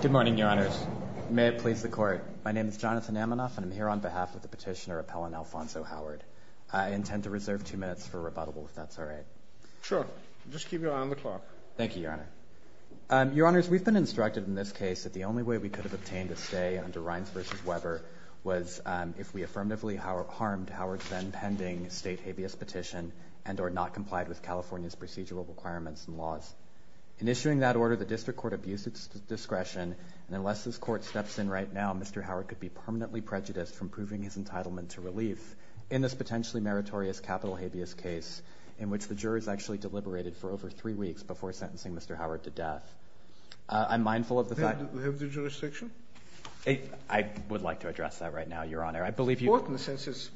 Good morning, Your Honors. May it please the Court. My name is Jonathan Amanoff, and I'm here on behalf of the petitioner, Appellant Alphonso Howard. I intend to reserve two minutes for rebuttal, if that's all right. Sure. Just keep your eye on the clock. Thank you, Your Honor. Your Honors, we've been instructed in this case that the only way we could have obtained a stay under Rines v. Weber was if we affirmatively harmed Howard's then-pending state habeas petition and are not complied with California's procedural requirements and laws. In issuing that order, the district court abused its discretion, and unless this court steps in right now, Mr. Howard could be permanently prejudiced from proving his entitlement to relief in this potentially meritorious capital habeas case in which the jurors actually deliberated for over three weeks before sentencing Mr. Howard to death. I'm mindful of the fact— Do you have the jurisdiction? I would like to address that right now, Your Honor. It's important since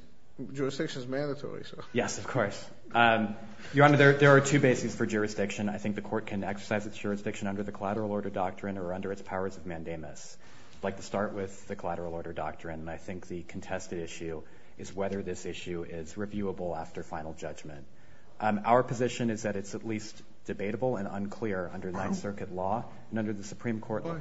jurisdiction is mandatory. Yes, of course. Your Honor, there are two bases for jurisdiction. I think the court can exercise its jurisdiction under the collateral order doctrine or under its powers of mandamus. I'd like to start with the collateral order doctrine, and I think the contested issue is whether this issue is reviewable after final judgment. Our position is that it's at least debatable and unclear under Ninth Circuit law and under the Supreme Court law.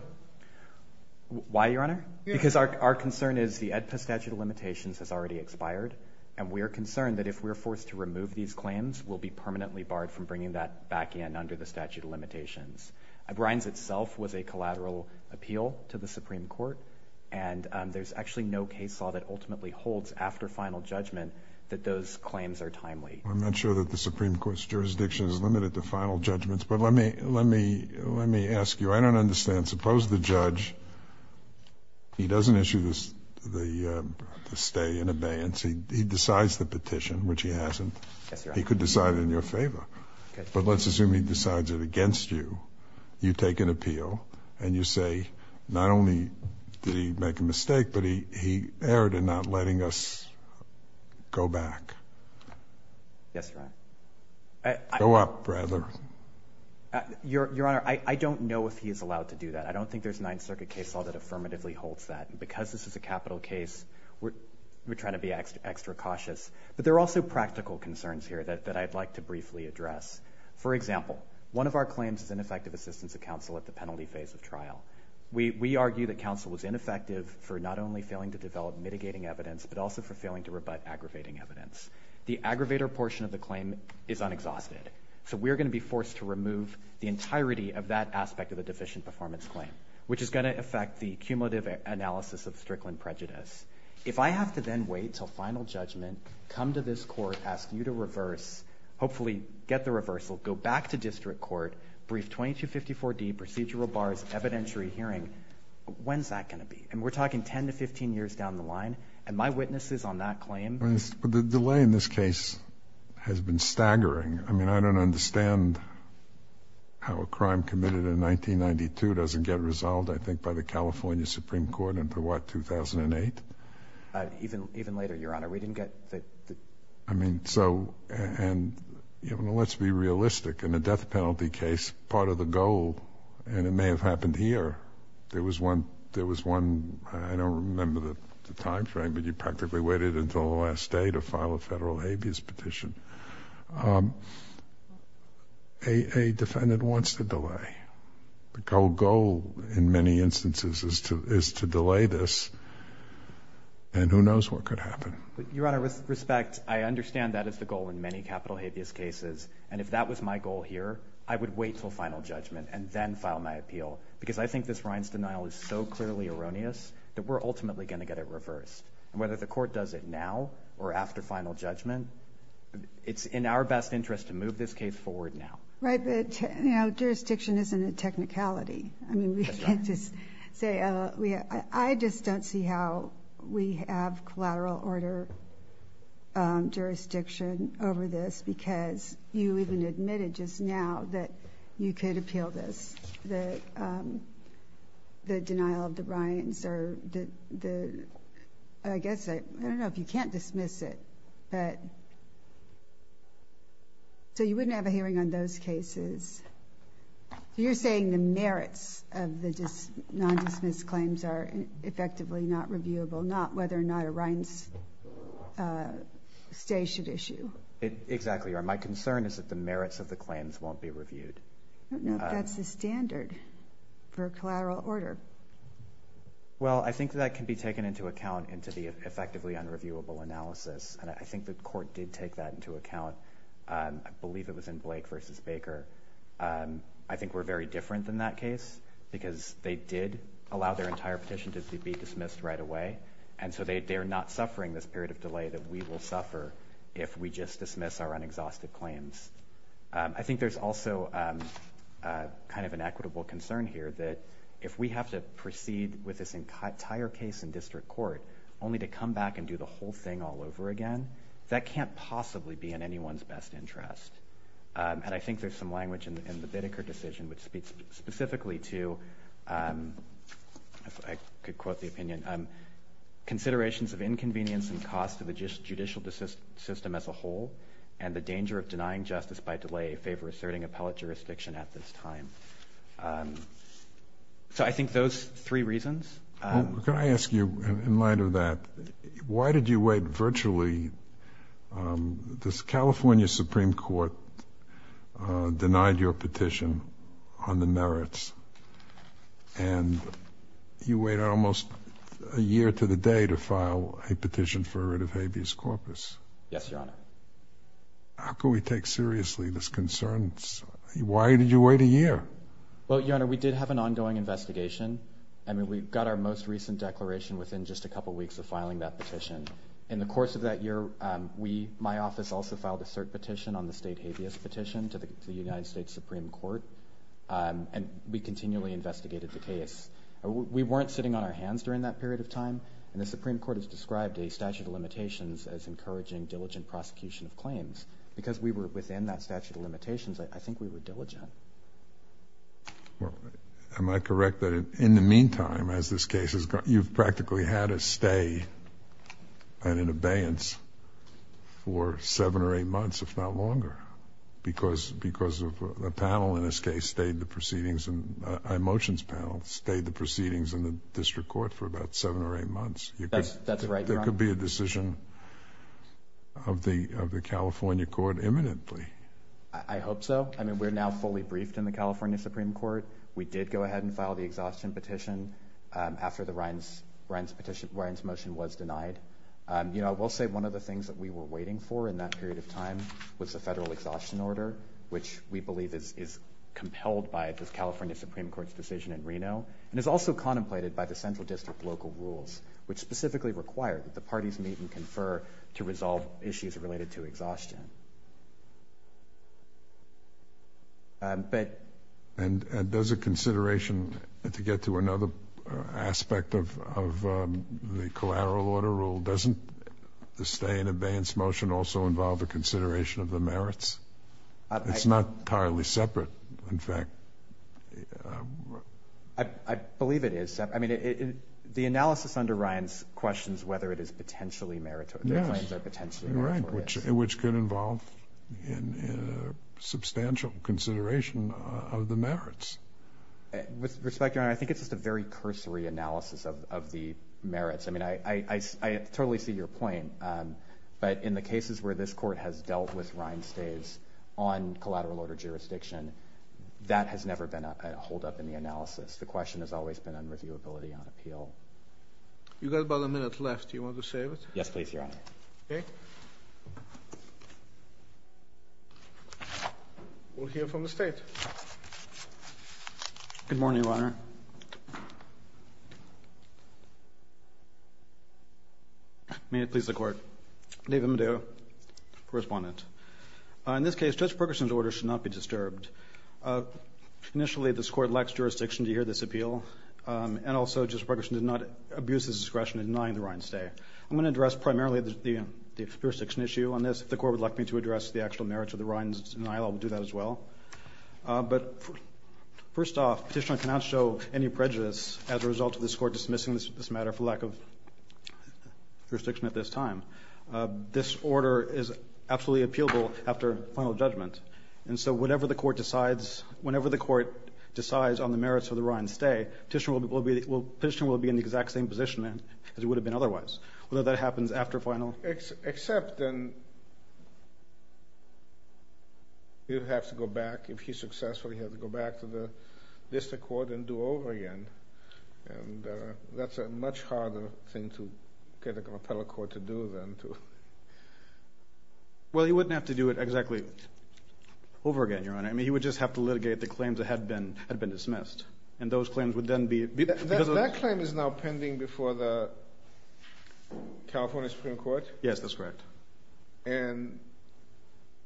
Why? Why, Your Honor? Because our concern is the AEDPA statute of limitations has already expired, and we are concerned that if we are forced to remove these claims, we'll be permanently barred from bringing that back in under the statute of limitations. Bryan's itself was a collateral appeal to the Supreme Court, and there's actually no case law that ultimately holds after final judgment that those claims are timely. I'm not sure that the Supreme Court's jurisdiction is limited to final judgments, but let me ask you. I don't understand. Suppose the judge, he doesn't issue the stay in abeyance. He decides the petition, which he hasn't. Yes, Your Honor. He could decide it in your favor, but let's assume he decides it against you. You take an appeal and you say not only did he make a mistake, but he erred in not letting us go back. Yes, Your Honor. Go up, rather. Your Honor, I don't know if he is allowed to do that. I don't think there's Ninth Circuit case law that affirmatively holds that. Because this is a capital case, we're trying to be extra cautious. But there are also practical concerns here that I'd like to briefly address. For example, one of our claims is ineffective assistance of counsel at the penalty phase of trial. We argue that counsel was ineffective for not only failing to develop mitigating evidence, but also for failing to rebut aggravating evidence. The aggravator portion of the claim is unexhausted. So we're going to be forced to remove the entirety of that aspect of the deficient performance claim, which is going to affect the cumulative analysis of Strickland prejudice. If I have to then wait until final judgment, come to this court, ask you to reverse, hopefully get the reversal, go back to district court, brief 2254D procedural bars, evidentiary hearing, when's that going to be? And we're talking 10 to 15 years down the line. And my witnesses on that claim— But the delay in this case has been staggering. I mean, I don't understand how a crime committed in 1992 doesn't get resolved, I think, by the California Supreme Court into what, 2008? Even later, Your Honor. We didn't get the— I mean, so—and, you know, let's be realistic. In the death penalty case, part of the goal, and it may have happened here, there was one—I don't remember the time frame, but you practically waited until the last day to file a federal habeas petition. A defendant wants to delay. The goal, in many instances, is to delay this, and who knows what could happen. Your Honor, with respect, I understand that is the goal in many capital habeas cases, and if that was my goal here, I would wait until final judgment and then file my appeal, because I think this Rines denial is so clearly erroneous that we're ultimately going to get it reversed. Whether the Court does it now or after final judgment, it's in our best interest to move this case forward now. Right, but, you know, jurisdiction isn't a technicality. I mean, we can't just say— I just don't see how we have collateral order jurisdiction over this, because you even admitted just now that you could appeal this, that the denial of the Rines or the Rines denial of the non-dismissed claims is not reviewable. I guess I—I don't know if you can't dismiss it, but—so you wouldn't have a hearing on those cases? You're saying the merits of the non-dismissed claims are effectively not reviewable, not whether or not a Rines stay should issue? Exactly, Your Honor. My concern is that the merits of the claims won't be reviewed. I don't know if that's the standard for collateral order. Well, I think that can be taken into account into the effectively unreviewable analysis, and I think the Court did take that into account. I believe it was in Blake v. Baker. I think we're very different than that case, because they did allow their entire petition to be dismissed right away, and so they're not suffering this period of delay that we will suffer if we just dismiss our unexhausted claims. I think there's also kind of an equitable concern here that if we have to proceed with this entire case in district court only to come back and do the whole thing all over again, that can't possibly be in anyone's best interest. And I think there's some language in the Biddeker decision which speaks specifically to—I could quote the opinion—considerations of inconvenience and cost to the judicial system as a whole and the danger of denying justice by delay, a favor asserting appellate jurisdiction at this time. So I think those three reasons. Well, can I ask you, in light of that, why did you wait virtually—the California Supreme Court denied your petition on the merits, and you waited almost a year to the day to file a petition for a writ of habeas corpus. Yes, Your Honor. How could we take seriously this concern? Why did you wait a year? Well, Your Honor, we did have an ongoing investigation. I mean, we got our most recent declaration within just a couple weeks of filing that petition. In the course of that year, my office also filed a cert petition on the state habeas petition to the United States Supreme Court, and we continually investigated the case. We weren't sitting on our hands during that period of time, and the Supreme Court has described a statute of limitations as encouraging diligent prosecution of claims. Because we were within that statute of limitations, I think we were diligent. Well, am I correct that in the meantime, as this case has gone—you've practically had a stay and an abeyance for seven or eight months, if not longer, because of a panel in this case stayed the proceedings—a motions panel stayed the proceedings in the district court for about seven or eight months. That's right, Your Honor. So there could be a decision of the California court imminently. I hope so. I mean, we're now fully briefed in the California Supreme Court. We did go ahead and file the exhaustion petition after Ryan's motion was denied. You know, I will say one of the things that we were waiting for in that period of time was the federal exhaustion order, which we believe is compelled by the California Supreme Court's decision in Reno and is also contemplated by the central district local rules, which specifically require that the parties meet and confer to resolve issues related to exhaustion. But— And does a consideration, to get to another aspect of the collateral order rule, doesn't the stay and abeyance motion also involve a consideration of the merits? It's not entirely separate, in fact. I believe it is. I mean, the analysis under Ryan's questions, whether it is potentially meritorious, their claims are potentially meritorious. Yes, right, which could involve a substantial consideration of the merits. With respect, Your Honor, I think it's just a very cursory analysis of the merits. I mean, I totally see your point. But in the cases where this court has dealt with Ryan stays on collateral order jurisdiction, that has never been a holdup in the analysis. The question has always been on reviewability, on appeal. You've got about a minute left. Do you want to save it? Yes, please, Your Honor. Okay. We'll hear from the State. Good morning, Your Honor. May it please the Court. David Medea, Correspondent. In this case, Judge Ferguson's order should not be disturbed. Initially, this Court lacks jurisdiction to hear this appeal. And also, Judge Ferguson did not abuse his discretion in denying the Ryan stay. I'm going to address primarily the jurisdiction issue on this. If the Court would like me to address the actual merits of the Ryan's denial, I will do that as well. But first off, Petitioner cannot show any prejudice as a result of this Court dismissing this matter for lack of jurisdiction at this time. This order is absolutely appealable after final judgment. And so whatever the Court decides, whenever the Court decides on the merits of the Ryan stay, Petitioner will be in the exact same position as it would have been otherwise, whether that happens after final judgment. Except then you'd have to go back, if he's successful, you'd have to go back to the district court and do over again. And that's a much harder thing to get an appellate court to do than to... Well, he wouldn't have to do it exactly over again, Your Honor. I mean, he would just have to litigate the claims that had been dismissed. And those claims would then be... That claim is now pending before the California Supreme Court? Yes, that's correct. And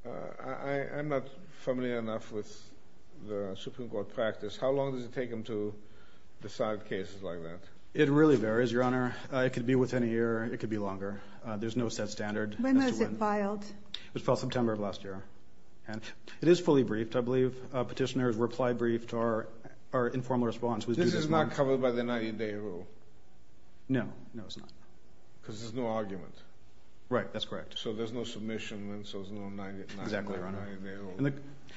I'm not familiar enough with the Supreme Court practice. How long does it take them to decide cases like that? It really varies, Your Honor. It could be within a year. It could be longer. There's no set standard. When was it filed? It was filed September of last year. And it is fully briefed, I believe. Petitioners reply briefed to our informal response. This is not covered by the 90-day rule? No. No, it's not. Because there's no argument. Right. That's correct. So there's no submission, and so there's no 90-day rule. Exactly, Your Honor.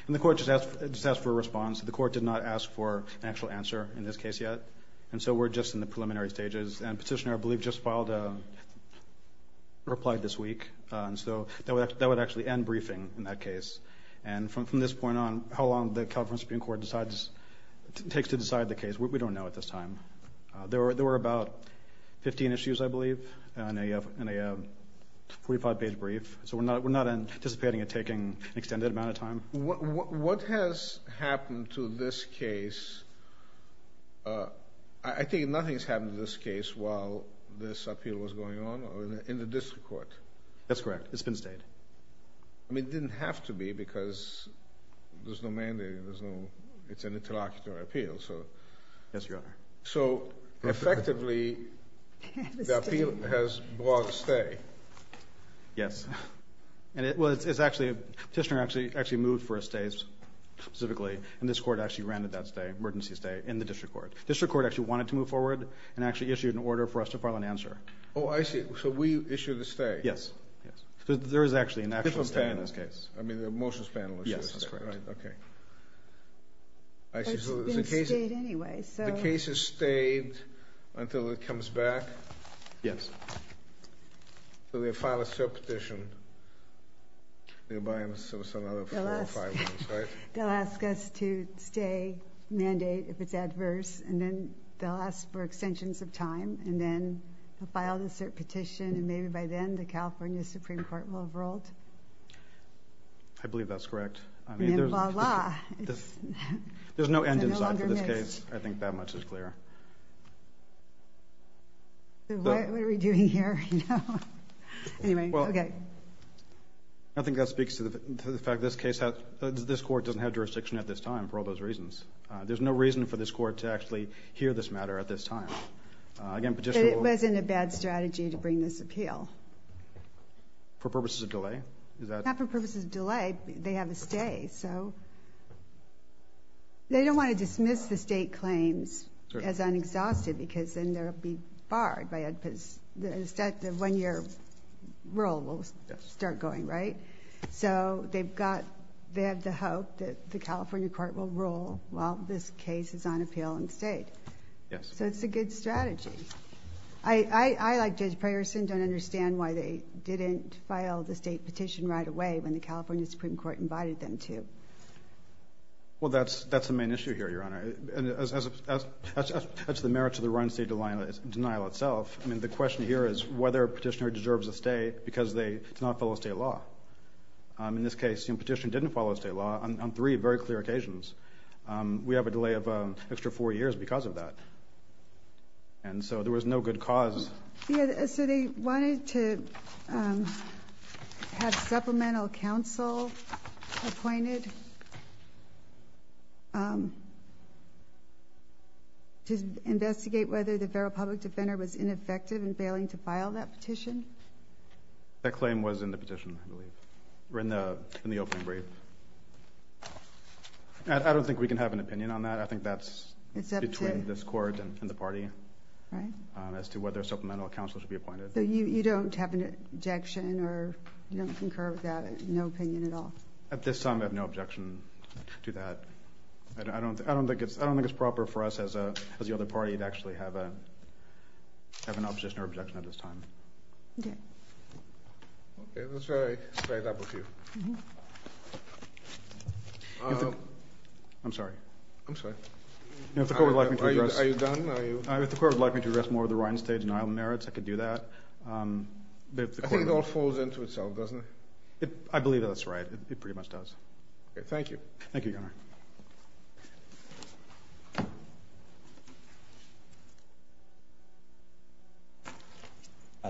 And the Court just asked for a response. The Court did not ask for an actual answer in this case yet. And so we're just in the preliminary stages. And Petitioner, I believe, just filed a reply this week. And so that would actually end briefing in that case. And from this point on, how long the California Supreme Court decides to decide the case, we don't know at this time. There were about 15 issues, I believe, in a 45-page brief. So we're not anticipating it taking an extended amount of time. What has happened to this case? I think nothing has happened to this case while this appeal was going on or in the district court. That's correct. It's been stayed. I mean, it didn't have to be because there's no mandate. There's no – it's an interlocutor appeal, so. Yes, Your Honor. So effectively, the appeal has brought stay. Yes. Well, it's actually – Petitioner actually moved for a stay specifically, and this Court actually granted that stay, emergency stay, in the district court. District court actually wanted to move forward and actually issued an order for us to file an answer. Oh, I see. So we issued a stay. Yes. Yes. There is actually an actual stay in this case. I mean, the motions panel issued a stay, right? Yes, that's correct. Okay. I see. It's been stayed anyway, so. The case is stayed until it comes back? Yes. So they'll file a cert petition. They'll buy us another four or five months, right? They'll ask us to stay, mandate if it's adverse, and then they'll ask for extensions of time, and then they'll file the cert petition, and maybe by then the California Supreme Court will have ruled. I believe that's correct. And then, voila. There's no end in sight for this case. It's no longer missed. I think that much is clear. What are we doing here? Anyway, okay. I think that speaks to the fact that this court doesn't have jurisdiction at this time for all those reasons. There's no reason for this court to actually hear this matter at this time. It wasn't a bad strategy to bring this appeal. For purposes of delay? Not for purposes of delay. They have a stay, so they don't want to dismiss the state claims as unexhausted because then they'll be barred. The one-year rule will start going, right? So they have the hope that the California court will rule, well, this case is on appeal and stayed. Yes. So it's a good strategy. I, like Judge Prayerson, don't understand why they didn't file the state petition right away when the California Supreme Court invited them to. Well, that's the main issue here, Your Honor. That's the merits of the run state denial itself. I mean, the question here is whether a petitioner deserves a stay because they did not follow state law. In this case, the petitioner didn't follow state law on three very clear occasions. We have a delay of an extra four years because of that. And so there was no good cause. So they wanted to have supplemental counsel appointed to investigate whether the federal public defender was ineffective in failing to file that petition? That claim was in the petition, I believe, or in the opening brief. I don't think we can have an opinion on that. I think that's between this court and the party. Right. As to whether supplemental counsel should be appointed. So you don't have an objection or you don't concur with that, no opinion at all? At this time, I have no objection to that. I don't think it's proper for us as the other party to actually have an opposition or objection at this time. Okay. Okay, let's try to split it up a few. I'm sorry. I'm sorry. Are you done? If the court would like me to address more of the Rhinestate denial of merits, I could do that. I think it all falls into itself, doesn't it? I believe that's right. It pretty much does. Okay, thank you. Thank you, Your Honor.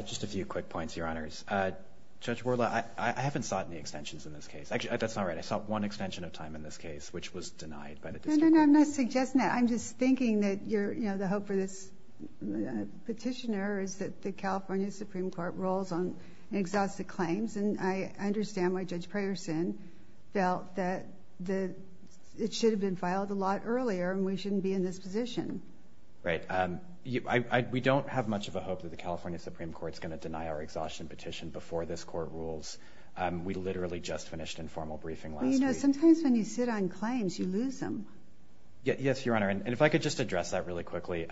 Just a few quick points, Your Honors. Judge Wardlaw, I haven't sought any extensions in this case. Actually, that's not right. I sought one extension of time in this case, which was denied by the district. No, no, no. I'm not suggesting that. I'm just thinking that the hope for this petitioner is that the California Supreme Court rolls on exhausted claims. And I understand why Judge Preyerson felt that it should have been filed a lot earlier and we shouldn't be in this position. Right. We don't have much of a hope that the California Supreme Court is going to deny our exhaustion petition before this court rules. We literally just finished informal briefing last week. Sometimes when you sit on claims, you lose them. Yes, Your Honor. And if I could just address that really quickly.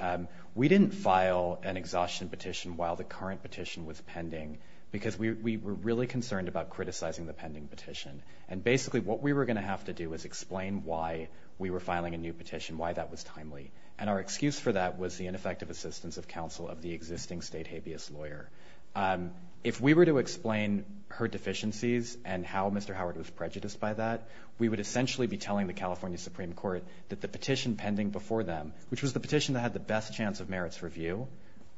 We didn't file an exhaustion petition while the current petition was pending because we were really concerned about criticizing the pending petition. And basically what we were going to have to do is explain why we were filing a new petition, why that was timely. And our excuse for that was the ineffective assistance of counsel of the existing state habeas lawyer. If we were to explain her deficiencies and how Mr. Howard was prejudiced by that, we would essentially be telling the California Supreme Court that the petition pending before them, which was the petition that had the best chance of merits review,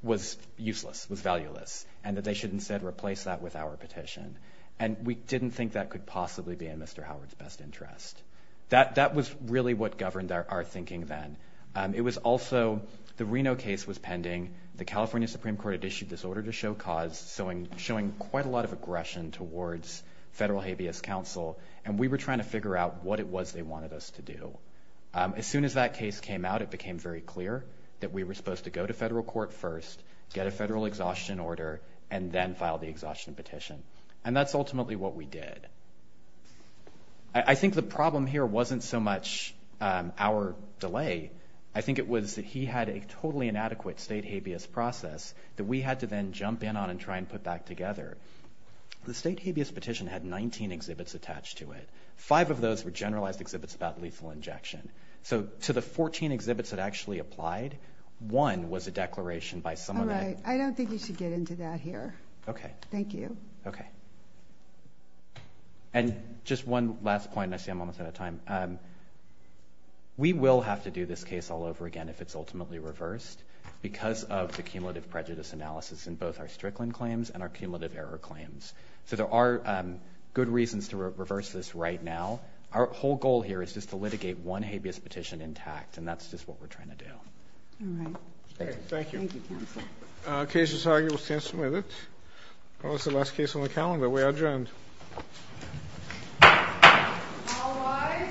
was useless, was valueless, and that they should instead replace that with our petition. And we didn't think that could possibly be in Mr. Howard's best interest. That was really what governed our thinking then. It was also the Reno case was pending. The California Supreme Court had issued this order to show cause, showing quite a lot of aggression towards federal habeas counsel. And we were trying to figure out what it was they wanted us to do. As soon as that case came out, it became very clear that we were supposed to go to federal court first, get a federal exhaustion order, and then file the exhaustion petition. And that's ultimately what we did. I think the problem here wasn't so much our delay. I think it was that he had a totally inadequate state habeas process that we had to then jump in on and try and put back together. The state habeas petition had 19 exhibits attached to it. Five of those were generalized exhibits about lethal injection. So to the 14 exhibits that actually applied, one was a declaration by someone that ---- All right. I don't think we should get into that here. Okay. Thank you. Okay. And just one last point. I see I'm almost out of time. We will have to do this case all over again if it's ultimately reversed because of the cumulative prejudice analysis in both our Strickland claims and our Bayer claims. So there are good reasons to reverse this right now. Our whole goal here is just to litigate one habeas petition intact, and that's just what we're trying to do. All right. Thank you. Thank you, counsel. Case is argued. We'll stand with it. That was the last case on the calendar. We are adjourned. All rise.